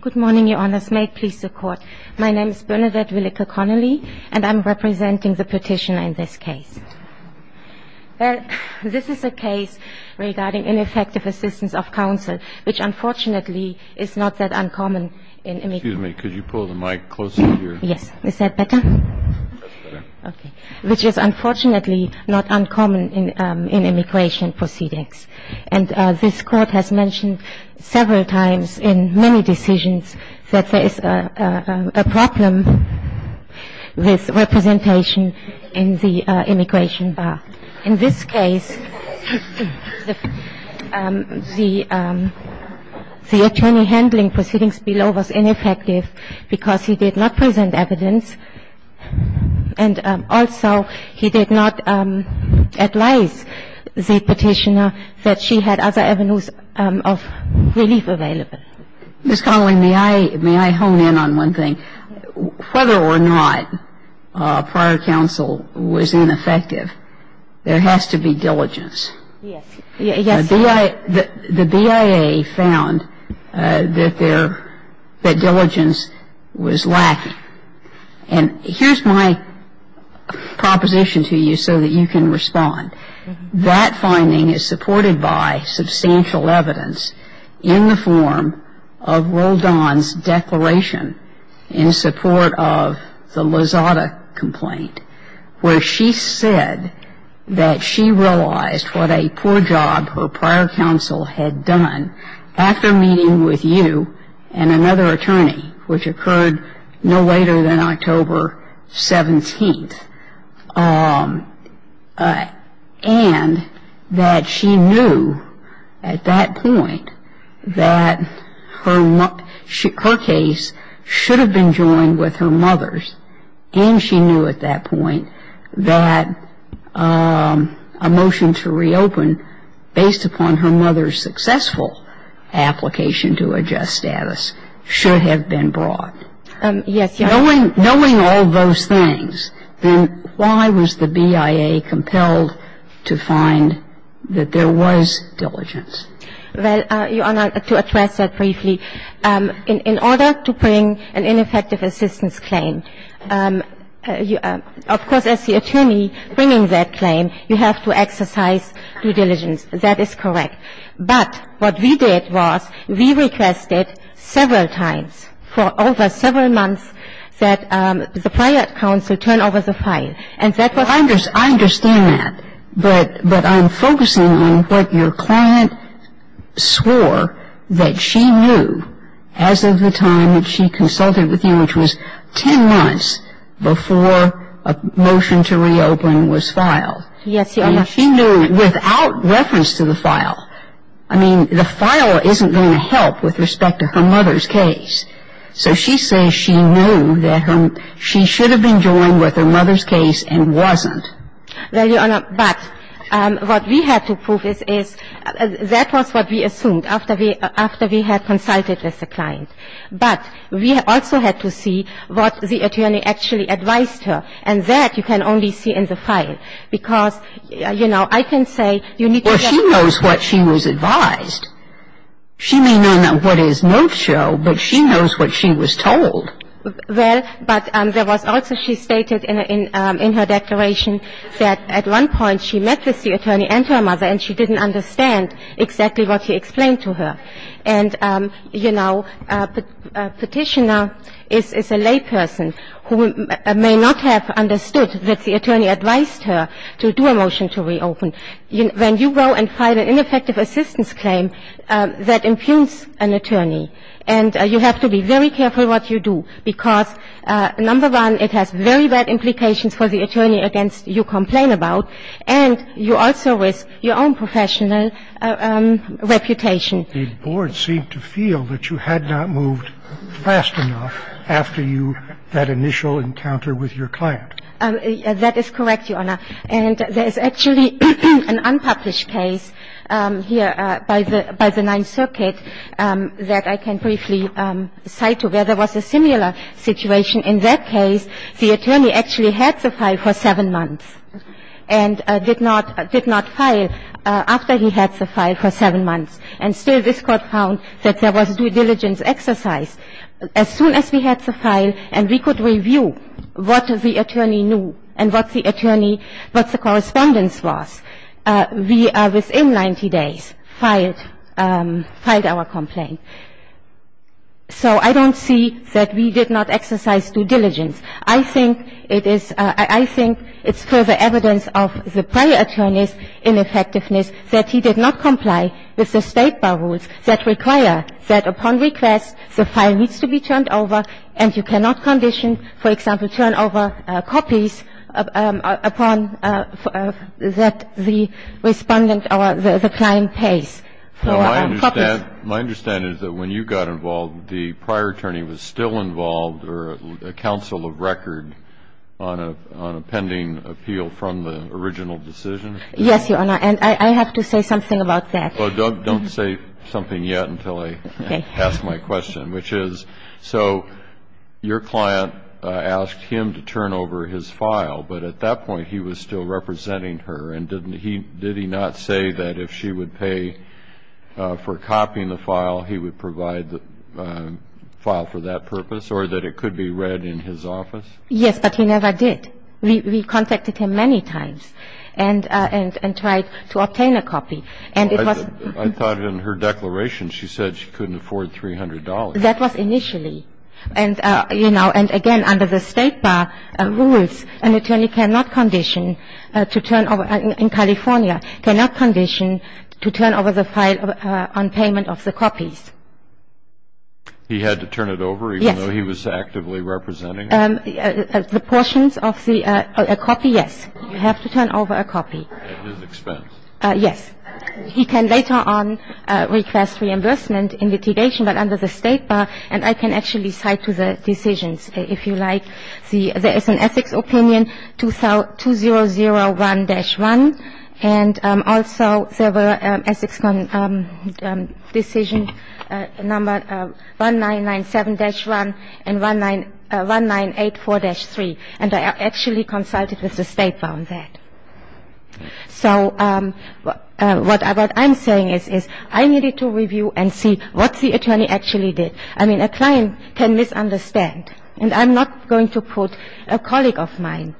Good morning, Your Honors. May it please the Court. My name is Bernadette Willeke Connolly, and I'm representing the petitioner in this case. This is a case regarding ineffective assistance of counsel, which unfortunately is not that uncommon in immigration proceedings. Excuse me. Could you pull the mic closer to your – Yes. Is that better? That's better. Okay. Which is unfortunately not uncommon in immigration proceedings. And this Court has mentioned several times in many decisions that there is a problem with representation in the immigration bar. In this case, the attorney handling proceedings below was ineffective because he did not present evidence and also he did not advise the petitioner that she had other avenues of relief available. Ms. Connolly, may I – may I hone in on one thing? Yes. Whether or not prior counsel was ineffective, there has to be diligence. Yes. Yes. The BIA found that there – that diligence was lacking. And here's my proposition to you so that you can respond. That finding is supported by substantial evidence in the form of Roldan's declaration in support of the Lozada complaint, where she said that she realized what a poor job her prior counsel had done after meeting with you and another attorney, which occurred no later than October 17th, and that she knew at that point that her case should have been joined with her mother's. And she knew at that point that a motion to reopen, based upon her mother's successful application to adjust status, should have been brought. Yes. Knowing – knowing all those things, then why was the BIA compelled to find that there was diligence? Well, Your Honor, to address that briefly, in order to bring an ineffective assistance claim, of course, as the attorney bringing that claim, you have to exercise due diligence. That is correct. But what we did was we requested several times for over several months that the prior counsel turn over the file. I understand that. But I'm focusing on what your client swore that she knew as of the time that she consulted with you, which was 10 months before a motion to reopen was filed. Yes, Your Honor. She knew without reference to the file. I mean, the file isn't going to help with respect to her mother's case. So she says she knew that her – she should have been joined with her mother's case and wasn't. Well, Your Honor, but what we had to prove is that was what we assumed after we had consulted with the client. But we also had to see what the attorney actually advised her. And that you can only see in the file because, you know, I can say you need to get – Well, she knows what she was advised. She may not know what is note show, but she knows what she was told. Well, but there was also – she stated in her declaration that at one point she met with the attorney and her mother and she didn't understand exactly what he explained to her. And, you know, a petitioner is a layperson who may not have understood that the attorney advised her to do a motion to reopen. When you go and file an ineffective assistance claim, that impugns an attorney. And you have to be very careful what you do because, number one, it has very bad implications for the attorney against you complain about, and you also risk your own professional reputation. The board seemed to feel that you had not moved fast enough after you – that initial encounter with your client. That is correct, Your Honor. And there is actually an unpublished case here by the Ninth Circuit that I can briefly cite to where there was a similar situation. In that case, the attorney actually had the file for seven months and did not file after he had the file for seven months. And still this Court found that there was due diligence exercise. As soon as we had the file and we could review what the attorney knew and what the attorney – what the correspondence was, we within 90 days filed our complaint. So I don't see that we did not exercise due diligence. I think it is – I think it's further evidence of the prior attorney's ineffectiveness that he did not comply with the State bar rules that require that upon request, the file needs to be turned over and you cannot condition, for example, turn over copies upon – that the respondent or the client pays for copies. My understanding is that when you got involved, the prior attorney was still involved or a counsel of record on a pending appeal from the original decision? Yes, Your Honor. And I have to say something about that. Well, don't say something yet until I ask my question, which is so your client asked him to turn over his file, but at that point he was still representing her. And didn't he – did he not say that if she would pay for copying the file, he would provide the file for that purpose or that it could be read in his office? Yes, but he never did. We contacted him many times. He said he would pay for the copies, but he never said he would pay for the copies and try to obtain a copy. And it was – I thought in her declaration she said she couldn't afford $300. That was initially. And, you know, and again, under the State bar rules, an attorney cannot condition to turn over in California, cannot condition to turn over the file on payment of the copies. He had to turn it over even though he was actively representing her? The portions of the – a copy, yes. You have to turn over a copy. At his expense. Yes. He can later on request reimbursement in litigation, but under the State bar. And I can actually cite to the decisions, if you like. There is an ethics opinion, 2001-1, and also there were ethics decision number 1997-1 and 1984-3. And I actually consulted with the State on that. So what I'm saying is I needed to review and see what the attorney actually did. I mean, a client can misunderstand. And I'm not going to put a colleague of mine,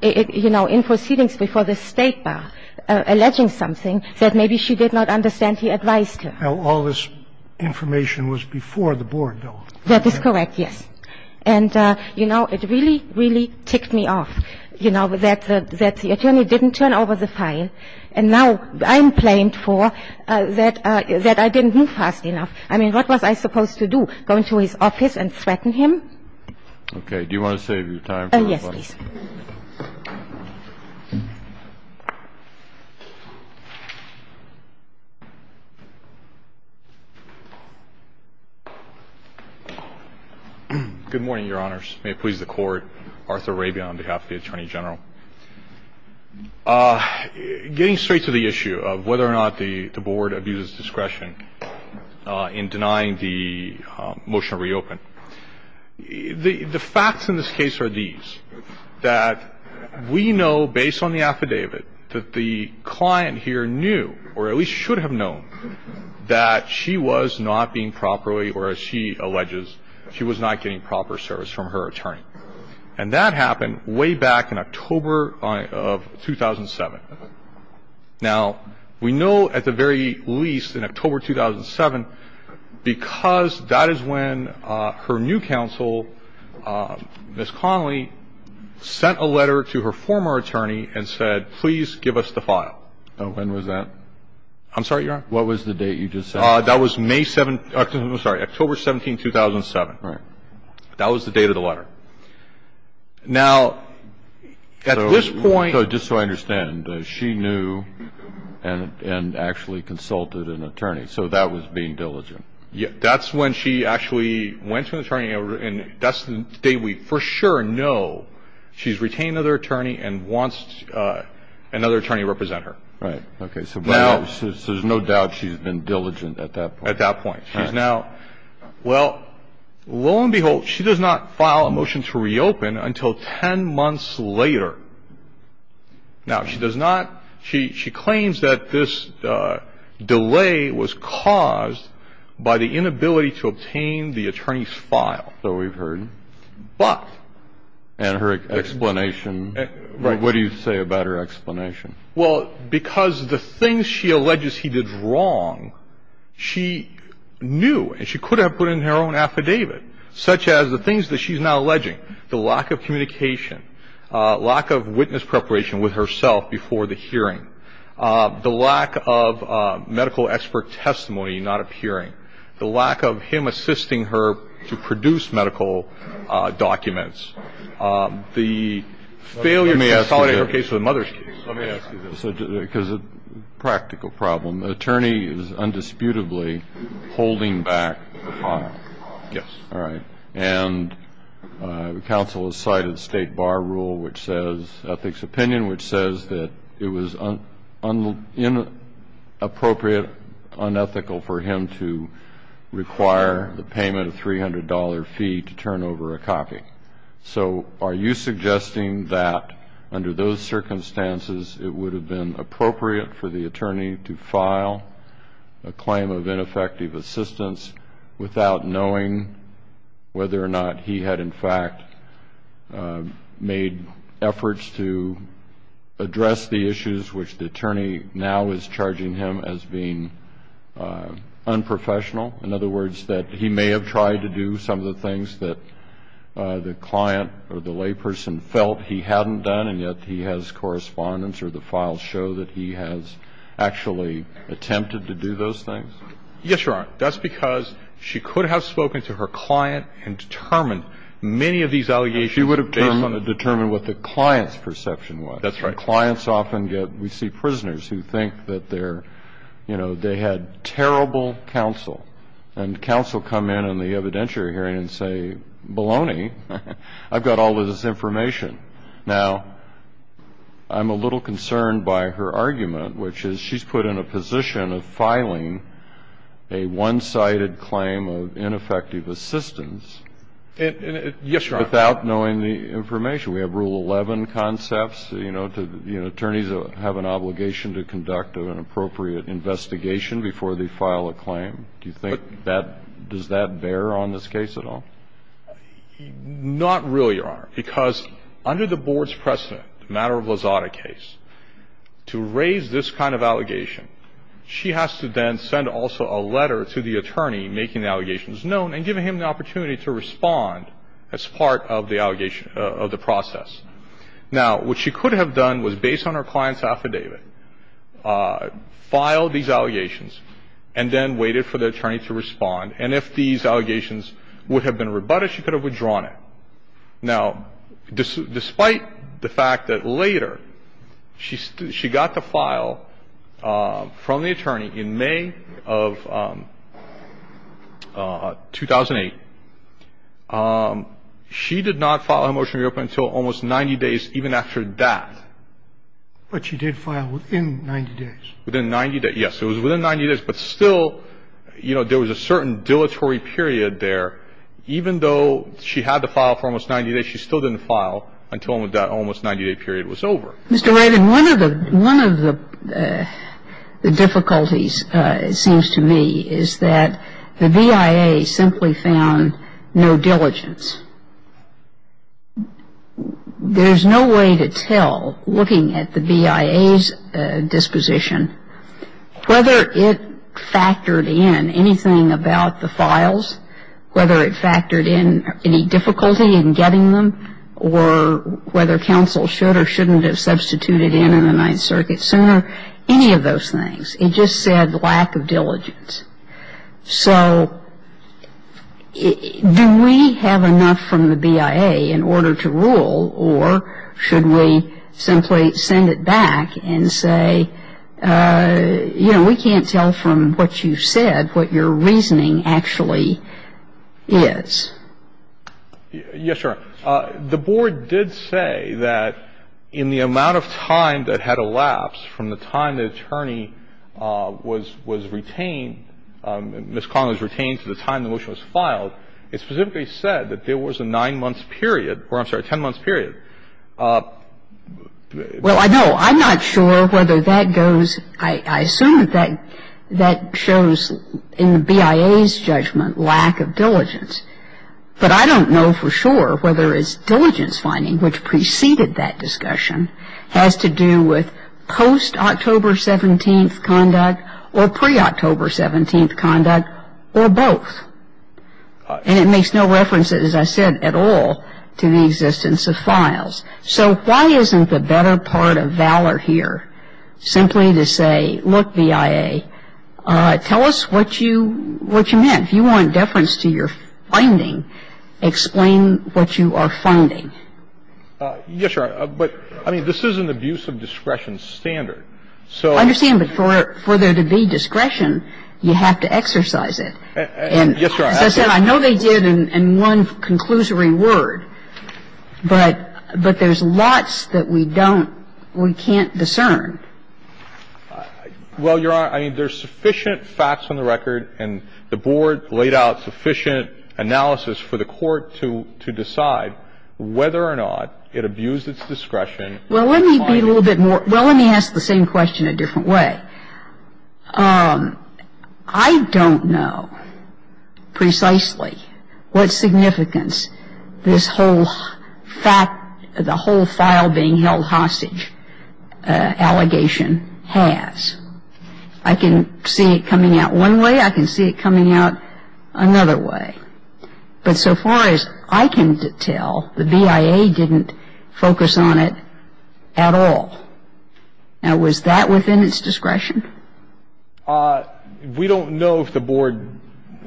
you know, in proceedings before the State bar, alleging something that maybe she did not understand he advised her. Now, all this information was before the board, though. That is correct, yes. And, you know, it really, really ticked me off, you know, that the attorney didn't turn over the file. And now I'm blamed for that I didn't move fast enough. I mean, what was I supposed to do, go into his office and threaten him? Okay. Do you want to save your time for everybody? Yes, please. Good morning, Your Honors. May it please the Court. Arthur Rabin on behalf of the Attorney General. Getting straight to the issue of whether or not the board abuses discretion in denying the motion to reopen. The facts in this case are these. That we know, based on the affidavit, that the client here knew, or at least should have known, that she was not being properly, or as she alleges, she was not getting proper service from her attorney. And that happened way back in October of 2007. Now, we know at the very least in October 2007 because that is when her new counsel, Ms. Connolly, sent a letter to her former attorney and said, please give us the file. When was that? I'm sorry, Your Honor? What was the date you just said? That was May 7th. I'm sorry. October 17th, 2007. Right. That was the date of the letter. Now, at this point. Just so I understand, she knew and actually consulted an attorney. So that was being diligent. That's when she actually went to an attorney and that's the date we for sure know she's retained another attorney and wants another attorney to represent her. Right. Okay. So there's no doubt she's been diligent at that point. At that point. Right. Well, lo and behold, she does not file a motion to reopen until ten months later. Now, she does not. She claims that this delay was caused by the inability to obtain the attorney's file. So we've heard. But. What do you say about her explanation? Well, because the things she alleges he did wrong, she knew and she could have put in her own affidavit, such as the things that she's now alleging, the lack of communication, lack of witness preparation with herself before the hearing, the lack of medical expert testimony not appearing, the lack of him assisting her to produce medical documents, the failure to consolidate her case with her mother's case. Let me ask you this, because it's a practical problem. The attorney is undisputably holding back the file. Yes. All right. And the counsel has cited state bar rule, which says ethics opinion, which says that it was inappropriate, unethical for him to require the payment of $300 fee to turn over a copy. So are you suggesting that under those circumstances, it would have been appropriate for the attorney to file a claim of ineffective assistance without knowing whether or not he had in fact made efforts to address the issues which the attorney now is charging him as being unprofessional? In other words, that he may have tried to do some of the things that the client or the layperson felt he hadn't done, and yet he has correspondence or the files show that he has actually attempted to do those things? Yes, Your Honor. That's because she could have spoken to her client and determined many of these allegations. She would have determined what the client's perception was. That's right. The client's often get we see prisoners who think that they're, you know, they had terrible counsel, and counsel come in on the evidentiary hearing and say, baloney, I've got all of this information. Now, I'm a little concerned by her argument, which is she's put in a position of filing a one-sided claim of ineffective assistance without knowing the information. Yes, Your Honor. Does that apply to all 11 concepts? You know, attorneys have an obligation to conduct an appropriate investigation before they file a claim. Do you think that does that bear on this case at all? Not really, Your Honor, because under the board's precedent, the matter of Lozada case, to raise this kind of allegation, she has to then send also a letter to the attorney making the allegations known and giving him the opportunity to respond as part of the process. Now, what she could have done was, based on her client's affidavit, file these allegations and then waited for the attorney to respond. And if these allegations would have been rebutted, she could have withdrawn it. Now, despite the fact that later she got to file from the attorney in May of 2008, she did not file her motion to reopen until almost 90 days even after that. But she did file within 90 days. Within 90 days, yes. It was within 90 days, but still, you know, there was a certain dilatory period there. Even though she had to file for almost 90 days, she still didn't file until that almost 90-day period was over. Mr. Reddin, one of the difficulties, it seems to me, is that the BIA simply found no diligence. There's no way to tell, looking at the BIA's disposition, whether it factored in anything about the files, whether it factored in any difficulty in getting them, or whether counsel should or shouldn't have substituted in on the Ninth Circuit sooner, any of those things. It just said lack of diligence. So do we have enough from the BIA in order to rule, or should we simply send it back and say, you know, we can't tell from what you said what your reasoning actually is? Yes, Your Honor. The Board did say that in the amount of time that had elapsed from the time the attorney was retained, Ms. Connell was retained to the time the motion was filed, it specifically said that there was a nine-month period, or I'm sorry, a ten-month period. Well, I know. I'm not sure whether that goes, I assume that that shows in the BIA's judgment lack of diligence. But I don't know for sure whether it's diligence finding, which preceded that discussion, has to do with post-October 17th conduct or pre-October 17th conduct or both. And it makes no reference, as I said, at all to the existence of files. So why isn't the better part of valor here simply to say, look, BIA, tell us what you meant. If you want deference to your finding, explain what you are finding. Yes, Your Honor. But, I mean, this is an abuse of discretion standard. So you can't do that. I understand. But for there to be discretion, you have to exercise it. Yes, Your Honor. As I said, I know they did in one conclusory word. But there's lots that we don't or we can't discern. Well, Your Honor, I mean, there's sufficient facts on the record, and the Board laid out sufficient analysis for the Court to decide whether or not it abused its discretion in finding. Well, let me be a little bit more – well, let me ask the same question a different way. I don't know precisely what significance this whole fact – the whole file being held hostage allegation has. I can see it coming out one way. I can see it coming out another way. But so far as I can tell, the BIA didn't focus on it at all. Now, was that within its discretion? We don't know if the Board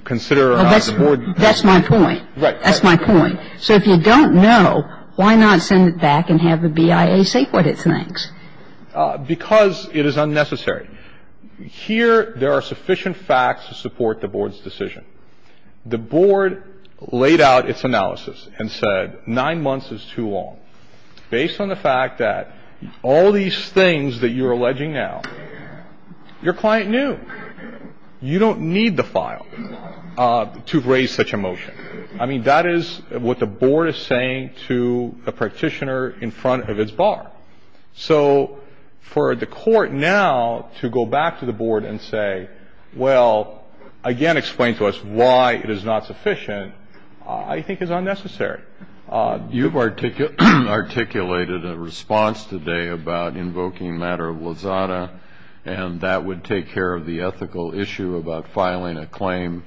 considered or not. That's my point. Right. That's my point. So if you don't know, why not send it back and have the BIA say what it thinks? Because it is unnecessary. Here there are sufficient facts to support the Board's decision. The Board laid out its analysis and said 9 months is too long. Based on the fact that all these things that you're alleging now, your client knew. You don't need the file to raise such a motion. I mean, that is what the Board is saying to a practitioner in front of its bar. So for the Court now to go back to the Board and say, well, again, explain to us why it is not sufficient, I think is unnecessary. You've articulated a response today about invoking a matter of Lozada, and that would take care of the ethical issue about filing a claim,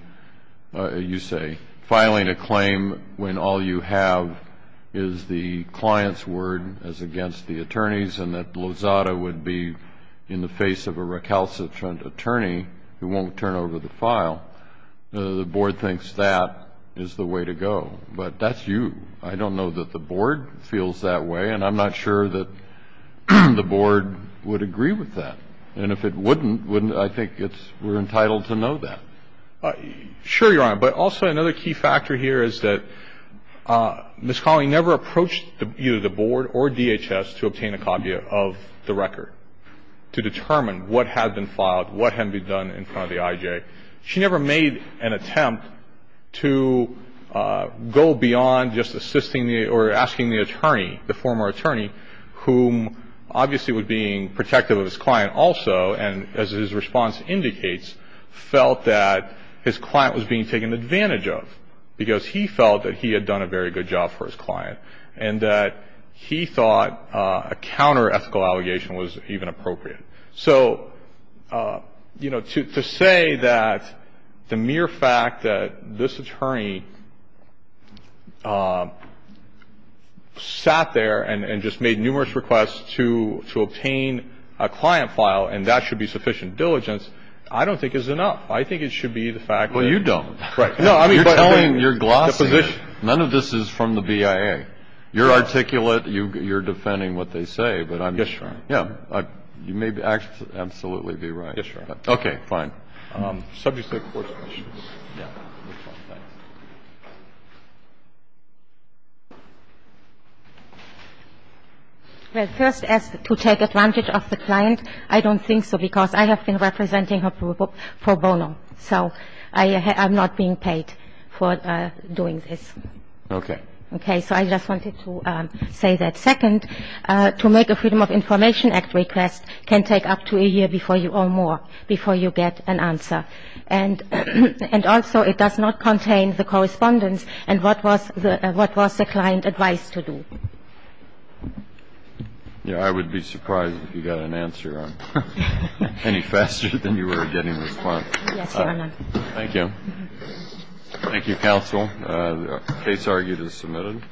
you say, filing a claim when all you have is the client's word as against the attorney's and that Lozada would be in the face of a recalcitrant attorney who won't turn over the file. The Board thinks that is the way to go. But that's you. I don't know that the Board feels that way, and I'm not sure that the Board would agree with that. And if it wouldn't, I think we're entitled to know that. Sure, Your Honor. But also another key factor here is that Ms. Colley never approached either the Board or DHS to obtain a copy of the record to determine what had been filed, what had been done in front of the IJ. She never made an attempt to go beyond just assisting or asking the attorney, the former attorney, whom obviously was being protective of his client also and, as his response indicates, felt that his client was being taken advantage of because he felt that he had done a very good job for his client and that he thought a counter-ethical allegation was even appropriate. So, you know, to say that the mere fact that this attorney sat there and just made numerous requests to obtain a client file and that should be sufficient diligence, I don't think is enough. I think it should be the fact that you don't. Right. No, I mean, you're glossing it. None of this is from the BIA. You're defending what they say. Yes, Your Honor. Yeah. You may absolutely be right. Yes, Your Honor. Okay, fine. Subject to the Court's decision. Yeah. Thanks. Well, first, as to take advantage of the client, I don't think so because I have been representing her for bono. So I am not being paid for doing this. Okay. Okay. So I just wanted to say that. And I would be surprised if you got an answer any faster than you were getting the response. Yes, Your Honor. Thank you. Thank you, counsel. The case argued is submitted.